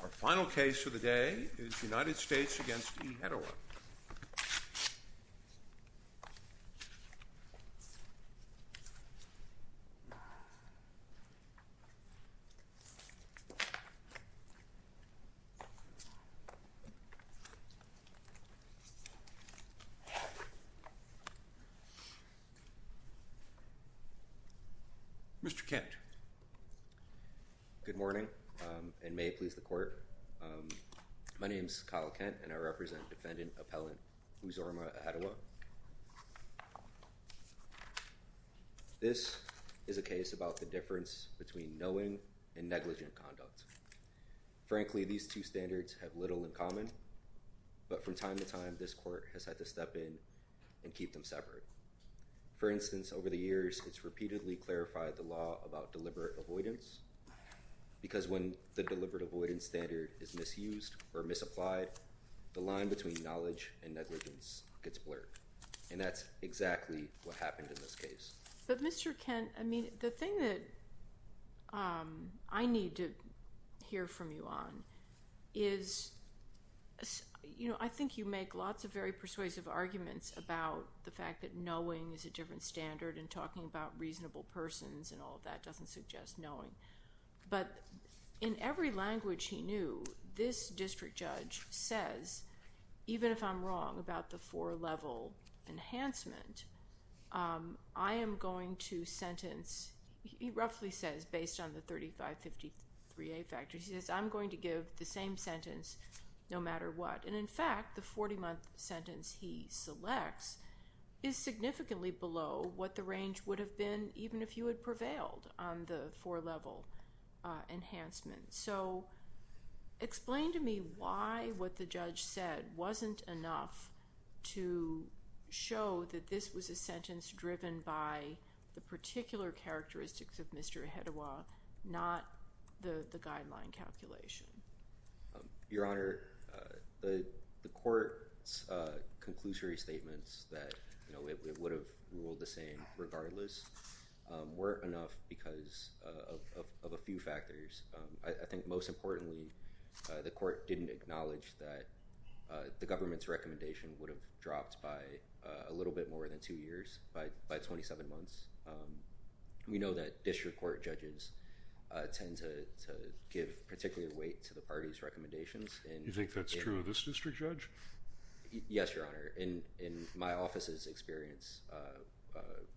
Our final case for the day is United States v. Ihediwa. Good morning and may it please the court. My name is Kyle Kent and I represent defendant appellant Uzorma Ihediwa. This is a case about the difference between knowing and negligent conduct. Frankly, these two standards have little in common, but from time to time this court has had to step in and keep them separate. For instance, over the years it's repeatedly clarified the law about deliberate avoidance, because when the deliberate avoidance standard is misused or misapplied, the line between knowledge and negligence gets blurred. And that's exactly what happened in this case. But Mr. Kent, I mean, the thing that I need to hear from you on is, you know, I think you make lots of very persuasive arguments about the fact that knowing is a different standard and talking about reasonable persons and all of that doesn't suggest knowing. But in every language he knew, this district judge says, even if I'm wrong about the four-level enhancement, I am going to sentence, he roughly says, based on the 3553A factor, he says I'm going to give the same sentence no matter what. And, in fact, the 40-month sentence he selects is significantly below what the range would have been, even if you had prevailed on the four-level enhancement. So explain to me why what the judge said wasn't enough to show that this was a sentence driven by the particular characteristics of Mr. Ahedewa, not the guideline calculation. Your Honor, the court's conclusory statements that, you know, it would have ruled the same regardless, weren't enough because of a few factors. I think most importantly, the court didn't acknowledge that the government's recommendation would have dropped by a little bit more than two years, by 27 months. We know that district court judges tend to give particular weight to the party's recommendations. You think that's true of this district judge? Yes, Your Honor. In my office's experience,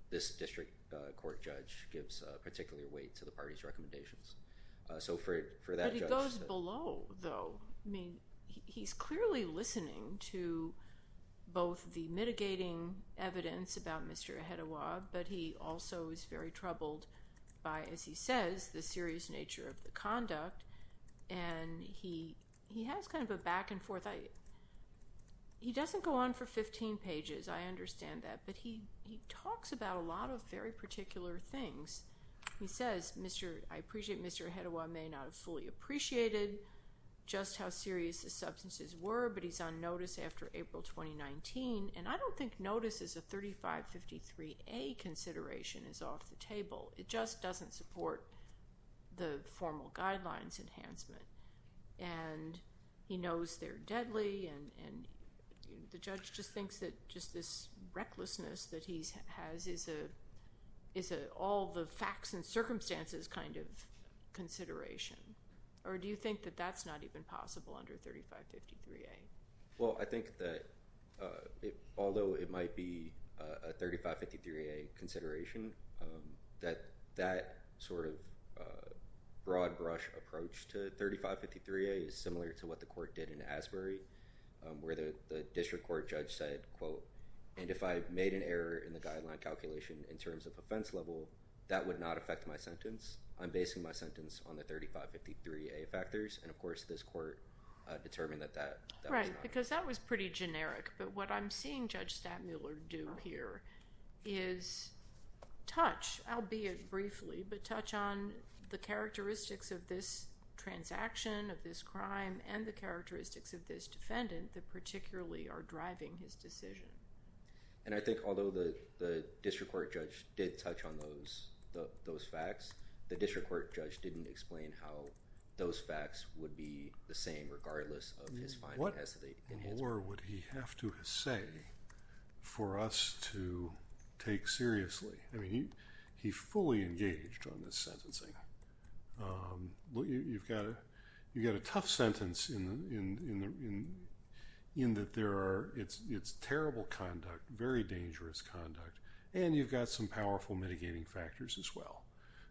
this district court judge gives particular weight to the party's recommendations. But he goes below, though. I mean, he's clearly listening to both the mitigating evidence about Mr. Ahedewa, but he also is very troubled by, as he says, the serious nature of the conduct. And he has kind of a back and forth. He doesn't go on for 15 pages. I understand that. But he talks about a lot of very particular things. He says, I appreciate Mr. Ahedewa may not have fully appreciated just how serious the substances were, but he's on notice after April 2019. And I don't think notice as a 3553A consideration is off the table. It just doesn't support the formal guidelines enhancement. And he knows they're deadly. And the judge just thinks that just this recklessness that he has is an all-the-facts-in-circumstances kind of consideration. Or do you think that that's not even possible under 3553A? Well, I think that although it might be a 3553A consideration, that that sort of broad brush approach to 3553A is similar to what the court did in Asbury, where the district court judge said, quote, and if I made an error in the guideline calculation in terms of offense level, that would not affect my sentence. I'm basing my sentence on the 3553A factors. And, of course, this court determined that that was not true. Right, because that was pretty generic. But what I'm seeing Judge Stattmuller do here is touch, albeit briefly, but touch on the characteristics of this transaction, of this crime, and the characteristics of this defendant that particularly are driving his decision. And I think although the district court judge did touch on those facts, the district court judge didn't explain how those facts would be the same regardless of his findings. What more would he have to say for us to take seriously? I mean, he fully engaged on this sentencing. You've got a tough sentence in that there are, it's terrible conduct, very dangerous conduct, and you've got some powerful mitigating factors as well.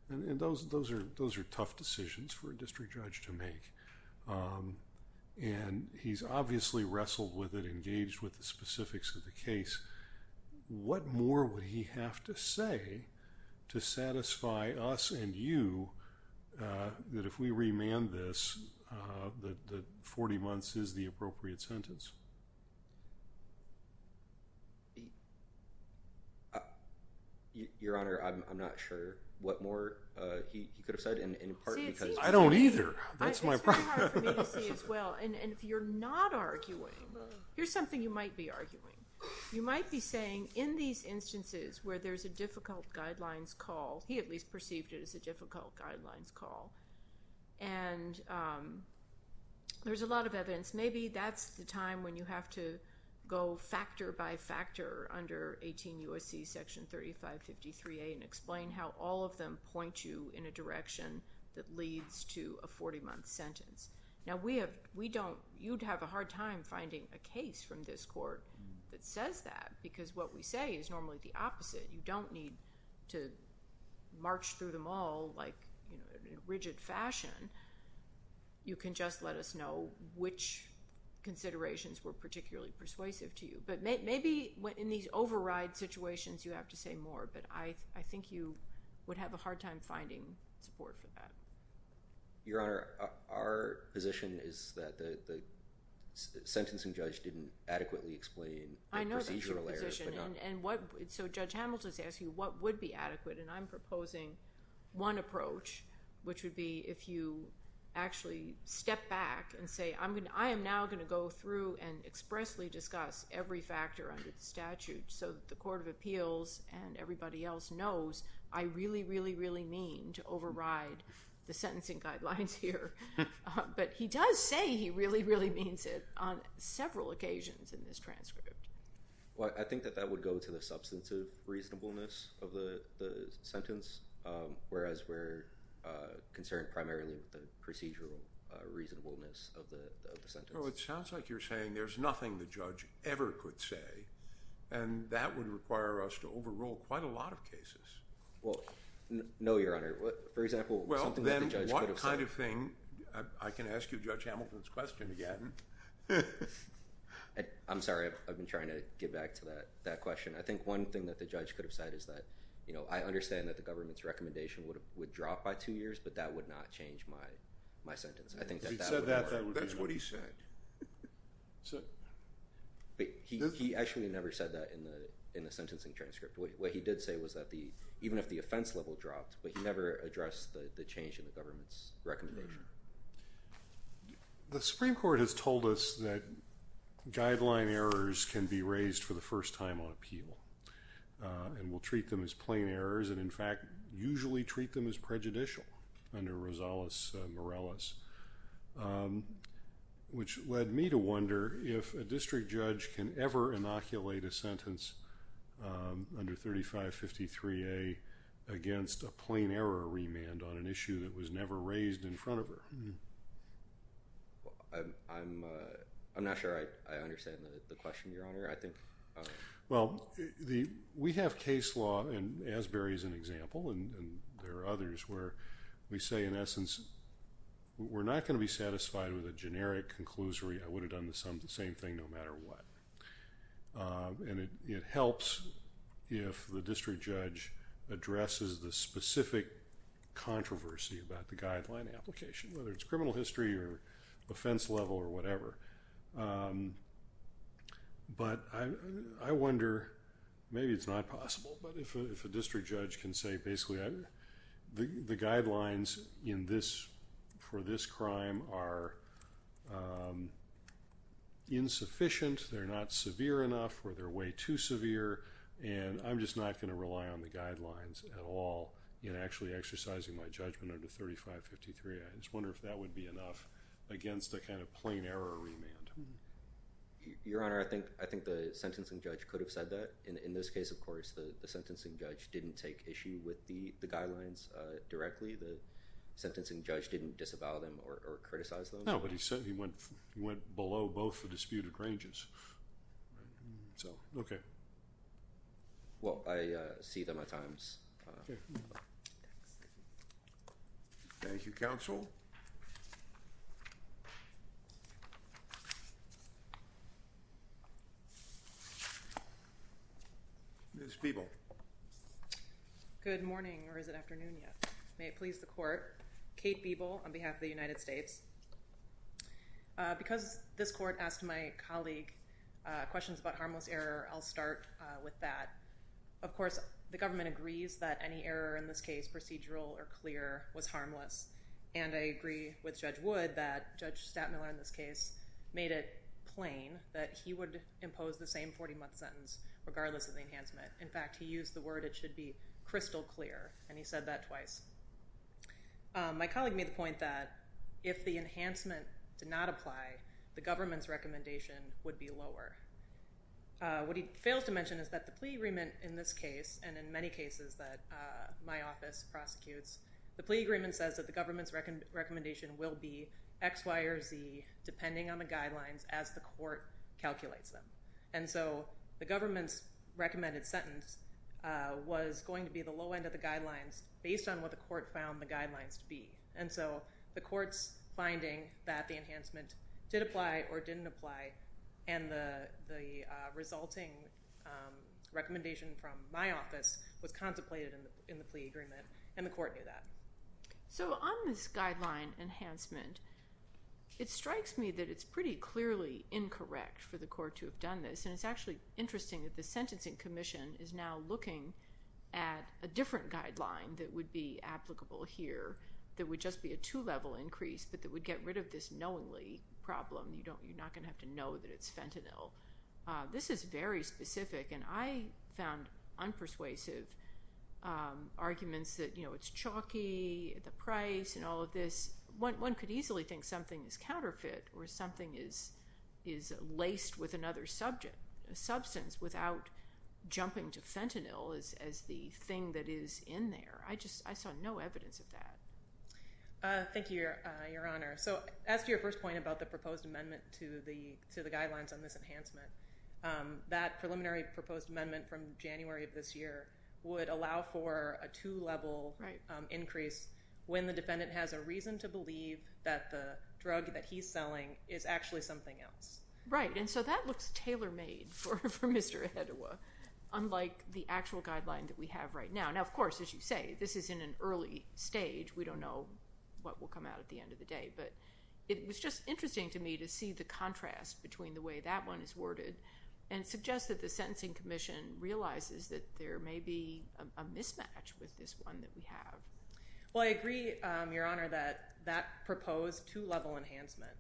And those are tough decisions for a district judge to make. And he's obviously wrestled with it, engaged with the specifics of the case. What more would he have to say to satisfy us and you that if we remand this, that 40 months is the appropriate sentence? Your Honor, I'm not sure what more he could have said in part because I don't either. It's very hard for me to see as well. And if you're not arguing, here's something you might be arguing. You might be saying in these instances where there's a difficult guidelines call, he at least perceived it as a difficult guidelines call, and there's a lot of evidence. Maybe that's the time when you have to go factor by factor under 18 U.S.C. Section 3553A and explain how all of them point you in a direction that leads to a 40-month sentence. Now, you'd have a hard time finding a case from this court that says that because what we say is normally the opposite. You don't need to march through them all in rigid fashion. You can just let us know which considerations were particularly persuasive to you. But maybe in these override situations you have to say more, but I think you would have a hard time finding support for that. Your Honor, our position is that the sentencing judge didn't adequately explain the procedural errors. I know that's your position. So Judge Hamilton's asking what would be adequate, and I'm proposing one approach, which would be if you actually step back and say, I am now going to go through and expressly discuss every factor under the statute so that the Court of Appeals and everybody else knows I really, really, really mean to override the sentencing guidelines here. But he does say he really, really means it on several occasions in this transcript. Well, I think that that would go to the substantive reasonableness of the sentence, whereas we're concerned primarily with the procedural reasonableness of the sentence. Well, it sounds like you're saying there's nothing the judge ever could say, and that would require us to overrule quite a lot of cases. Well, no, Your Honor. For example, something that the judge could have said. Well, then what kind of thing? I can ask you Judge Hamilton's question again. I'm sorry. I've been trying to get back to that question. I think one thing that the judge could have said is that, you know, I understand that the government's recommendation would drop by two years, but that would not change my sentence. I think that that would work. If he'd said that, that would be fine. That's what he said. He actually never said that in the sentencing transcript. What he did say was that even if the offense level dropped, he never addressed the change in the government's recommendation. The Supreme Court has told us that guideline errors can be raised for the first time on appeal and will treat them as plain errors and, in fact, usually treat them as prejudicial under Rosales-Morales, which led me to wonder if a district judge can ever inoculate a sentence under 3553A against a plain error remand on an issue that was never raised in front of her. I'm not sure I understand the question, Your Honor. Well, we have case law, and Asbury is an example, and there are others, where we say, in essence, we're not going to be satisfied with a generic conclusory. I would have done the same thing no matter what. And it helps if the district judge addresses the specific controversy about the guideline application, whether it's criminal history or offense level or whatever. But I wonder, maybe it's not possible, but if a district judge can say, basically, the guidelines for this crime are insufficient, they're not severe enough, or they're way too severe, and I'm just not going to rely on the guidelines at all in actually exercising my judgment under 3553A. I just wonder if that would be enough against a kind of plain error remand. Your Honor, I think the sentencing judge could have said that. In this case, of course, the sentencing judge didn't take issue with the guidelines directly. The sentencing judge didn't disavow them or criticize them. No, but he said he went below both the disputed ranges. Okay. Well, I see them at times. Thank you, Counsel. Ms. Biebel. Good morning, or is it afternoon yet? May it please the Court. Kate Biebel on behalf of the United States. Because this Court asked my colleague questions about harmless error, I'll start with that. Of course, the government agrees that any error in this case, procedural or clear, was harmless, and I agree with Judge Wood that Judge Stattmiller in this case made it plain that he would impose the same 40-month sentence, regardless of the enhancement. In fact, he used the word it should be crystal clear, and he said that twice. My colleague made the point that if the enhancement did not apply, the government's recommendation would be lower. What he fails to mention is that the plea agreement in this case, and in many cases that my office prosecutes, the plea agreement says that the government's recommendation will be X, Y, or Z, depending on the guidelines as the Court calculates them. And so the government's recommended sentence was going to be the low end of the guidelines, based on what the Court found the guidelines to be. And so the Court's finding that the enhancement did apply or didn't apply, and the resulting recommendation from my office was contemplated in the plea agreement, and the Court knew that. So on this guideline enhancement, it strikes me that it's pretty clearly incorrect for the Court to have done this, and it's actually interesting that the Sentencing Commission is now looking at a different guideline that would be applicable here, that would just be a two-level increase, but that would get rid of this knowingly problem. You're not going to have to know that it's fentanyl. This is very specific, and I found unpersuasive arguments that it's chalky at the price and all of this. One could easily think something is counterfeit or something is laced with another substance without jumping to fentanyl as the thing that is in there. I saw no evidence of that. Thank you, Your Honor. So as to your first point about the proposed amendment to the guidelines on this enhancement, that preliminary proposed amendment from January of this year would allow for a two-level increase when the defendant has a reason to believe that the drug that he's selling is actually something else. Right, and so that looks tailor-made for Mr. Edewa, unlike the actual guideline that we have right now. Now, of course, as you say, this is in an early stage. We don't know what will come out at the end of the day, but it was just interesting to me to see the contrast between the way that one is worded and suggests that the Sentencing Commission realizes that there may be a mismatch with this one that we have. Well, I agree, Your Honor, that that proposed two-level enhancement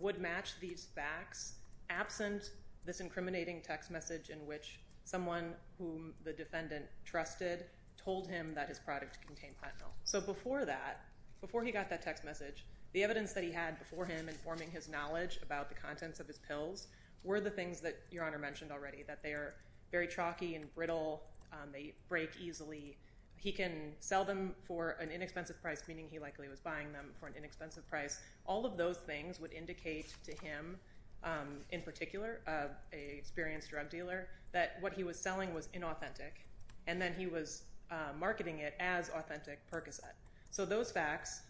would match these facts absent this incriminating text message in which someone whom the defendant trusted told him that his product contained plant milk. So before that, before he got that text message, the evidence that he had before him informing his knowledge about the contents of his pills were the things that Your Honor mentioned already, that they are very chalky and brittle. They break easily. He can sell them for an inexpensive price, meaning he likely was buying them for an inexpensive price. All of those things would indicate to him, in particular, an experienced drug dealer, that what he was selling was inauthentic, and then he was marketing it as authentic Percocet. So those facts,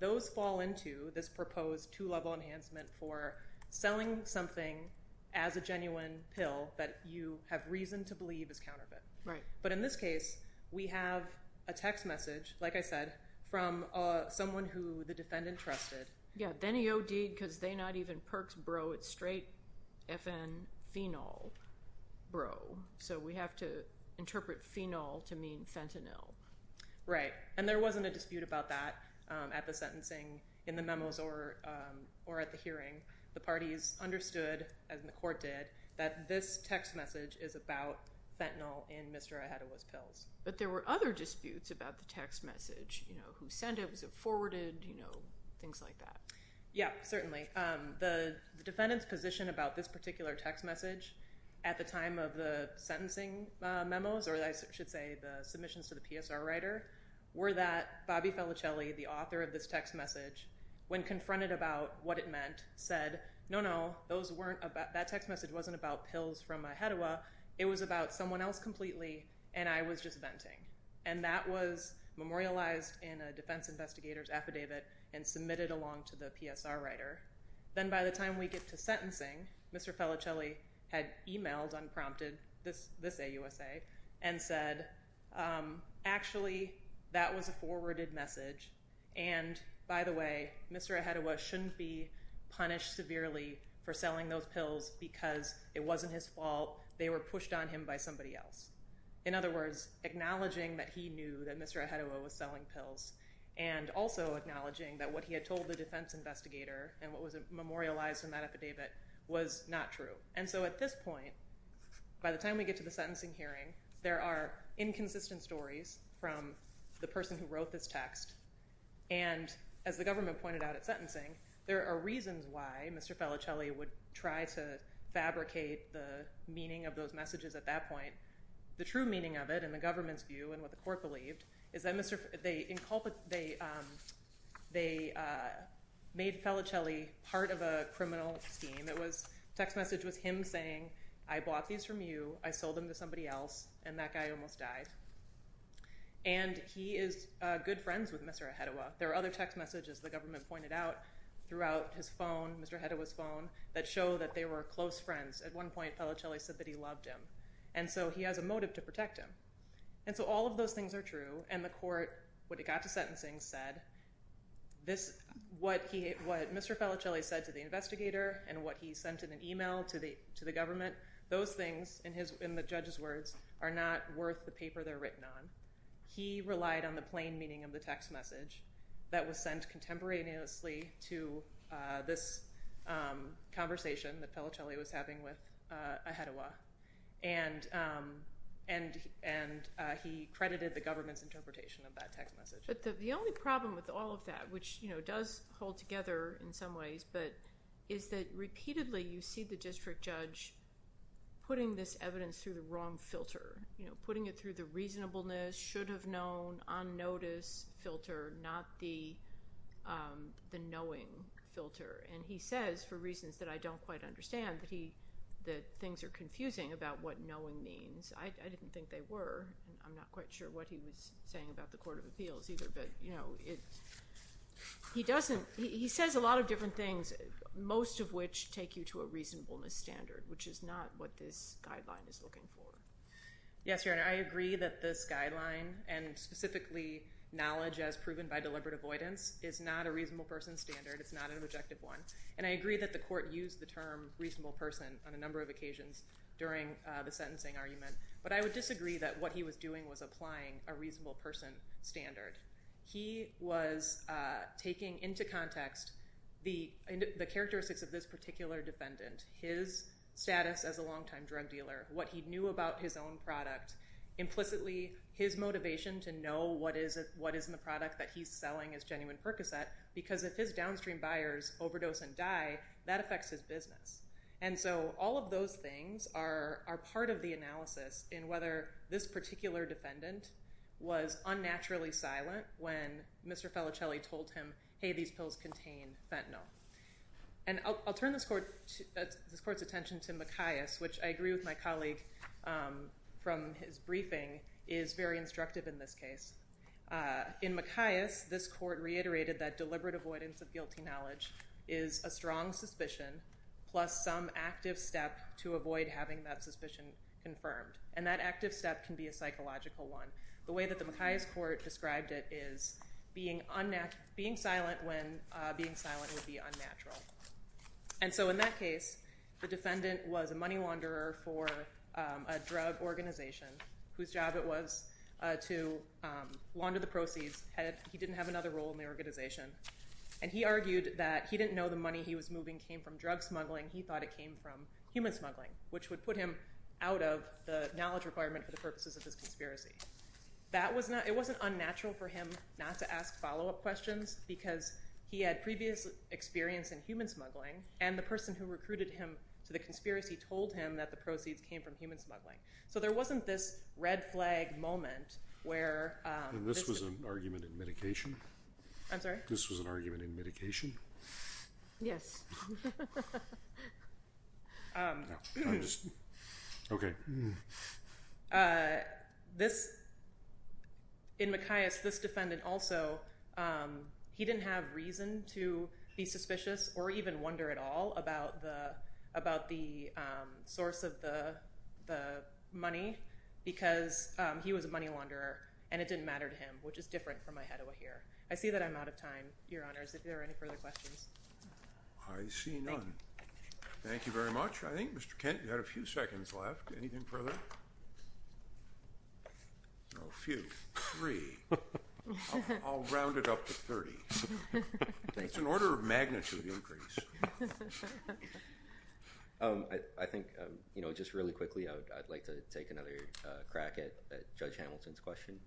those fall into this proposed two-level enhancement for selling something as a genuine pill that you have reason to believe is counterfeit. But in this case, we have a text message, like I said, from someone who the defendant trusted. Yeah, then he OD'd because they not even Perc's bro. It's straight FN phenol bro. So we have to interpret phenol to mean fentanyl. Right, and there wasn't a dispute about that at the sentencing, in the memos, or at the hearing. The parties understood, as the court did, that this text message is about fentanyl in Mr. Ahedewa's pills. But there were other disputes about the text message. Who sent it? Was it forwarded? Things like that. Yeah, certainly. The defendant's position about this particular text message at the time of the sentencing memos, or I should say the submissions to the PSR writer, were that Bobby Felicelli, the author of this text message, when confronted about what it meant, said, no, no, that text message wasn't about pills from Ahedewa. It was about someone else completely, and I was just venting. And that was memorialized in a defense investigator's affidavit and submitted along to the PSR writer. Then by the time we get to sentencing, Mr. Felicelli had emailed, unprompted, this AUSA, and said, actually, that was a forwarded message, and by the way, Mr. Ahedewa shouldn't be punished severely for selling those pills because it wasn't his fault. They were pushed on him by somebody else. In other words, acknowledging that he knew that Mr. Ahedewa was selling pills and also acknowledging that what he had told the defense investigator and what was memorialized in that affidavit was not true. And so at this point, by the time we get to the sentencing hearing, there are inconsistent stories from the person who wrote this text, and as the government pointed out at sentencing, there are reasons why Mr. Felicelli would try to fabricate the meaning of those messages at that point. The true meaning of it in the government's view and what the court believed is that they made Felicelli part of a criminal scheme. The text message was him saying, I bought these from you. I sold them to somebody else, and that guy almost died. And he is good friends with Mr. Ahedewa. There are other text messages the government pointed out throughout his phone, Mr. Ahedewa's phone, that show that they were close friends. At one point, Felicelli said that he loved him, and so he has a motive to protect him. And so all of those things are true, and the court, when it got to sentencing, said what Mr. Felicelli said to the investigator and what he sent in an email to the government, those things, in the judge's words, are not worth the paper they're written on. He relied on the plain meaning of the text message that was sent contemporaneously to this conversation that Felicelli was having with Ahedewa, and he credited the government's interpretation of that text message. But the only problem with all of that, which does hold together in some ways, but is that repeatedly you see the district judge putting this evidence through the wrong filter, putting it through the reasonableness, should have known, on notice filter, not the knowing filter. And he says, for reasons that I don't quite understand, that things are confusing about what knowing means. I didn't think they were, and I'm not quite sure what he was saying about the Court of Appeals either, but he says a lot of different things, most of which take you to a reasonableness standard, which is not what this guideline is looking for. Yes, Your Honor. I agree that this guideline, and specifically knowledge as proven by deliberate avoidance, is not a reasonable person standard. It's not an objective one, and I agree that the court used the term reasonable person on a number of occasions during the sentencing argument, but I would disagree that what he was doing was applying a reasonable person standard. He was taking into context the characteristics of this particular defendant, his status as a longtime drug dealer, what he knew about his own product, implicitly his motivation to know what is in the product that he's selling as genuine Percocet, because if his downstream buyers overdose and die, that affects his business. And so all of those things are part of the analysis in whether this particular defendant was unnaturally silent when Mr. Felicelli told him, hey, these pills contain fentanyl. And I'll turn this court's attention to Macias, which I agree with my colleague from his briefing, is very instructive in this case. In Macias, this court reiterated that deliberate avoidance of guilty knowledge is a strong suspicion plus some active step to avoid having that suspicion confirmed, and that active step can be a psychological one. The way that the Macias court described it is being silent when being silent would be unnatural. And so in that case, the defendant was a money launderer for a drug organization whose job it was to launder the proceeds. And he argued that he didn't know the money he was moving came from drug smuggling. He thought it came from human smuggling, which would put him out of the knowledge requirement for the purposes of this conspiracy. It wasn't unnatural for him not to ask follow-up questions because he had previous experience in human smuggling, and the person who recruited him to the conspiracy told him that the proceeds came from human smuggling. So there wasn't this red flag moment where this was an argument in medication. I'm sorry? This was an argument in medication. Yes. I'm just, okay. This, in Macias, this defendant also, he didn't have reason to be suspicious or even wonder at all about the source of the money because he was a money launderer and it didn't matter to him, which is different from my head over here. I see that I'm out of time, Your Honors, if there are any further questions. I see none. Thank you. Thank you very much. I think, Mr. Kent, you had a few seconds left. Anything further? A few. Three. I'll round it up to 30. It's an order of magnitude increase. I think, you know, just really quickly, I'd like to take another crack at Judge Hamilton's question.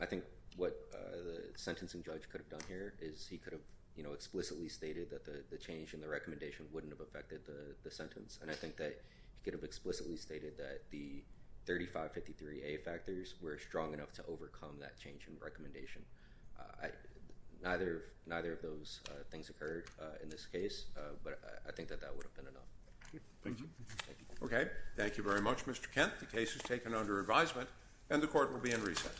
I think what the sentencing judge could have done here is he could have, you know, explicitly stated that the change in the recommendation wouldn't have affected the sentence, and I think that he could have explicitly stated that the 3553A factors were strong enough to overcome that change in recommendation. Neither of those things occurred in this case, but I think that that would have been enough. Thank you. Okay. Thank you very much, Mr. Kent. The case is taken under advisement and the court will be in recess.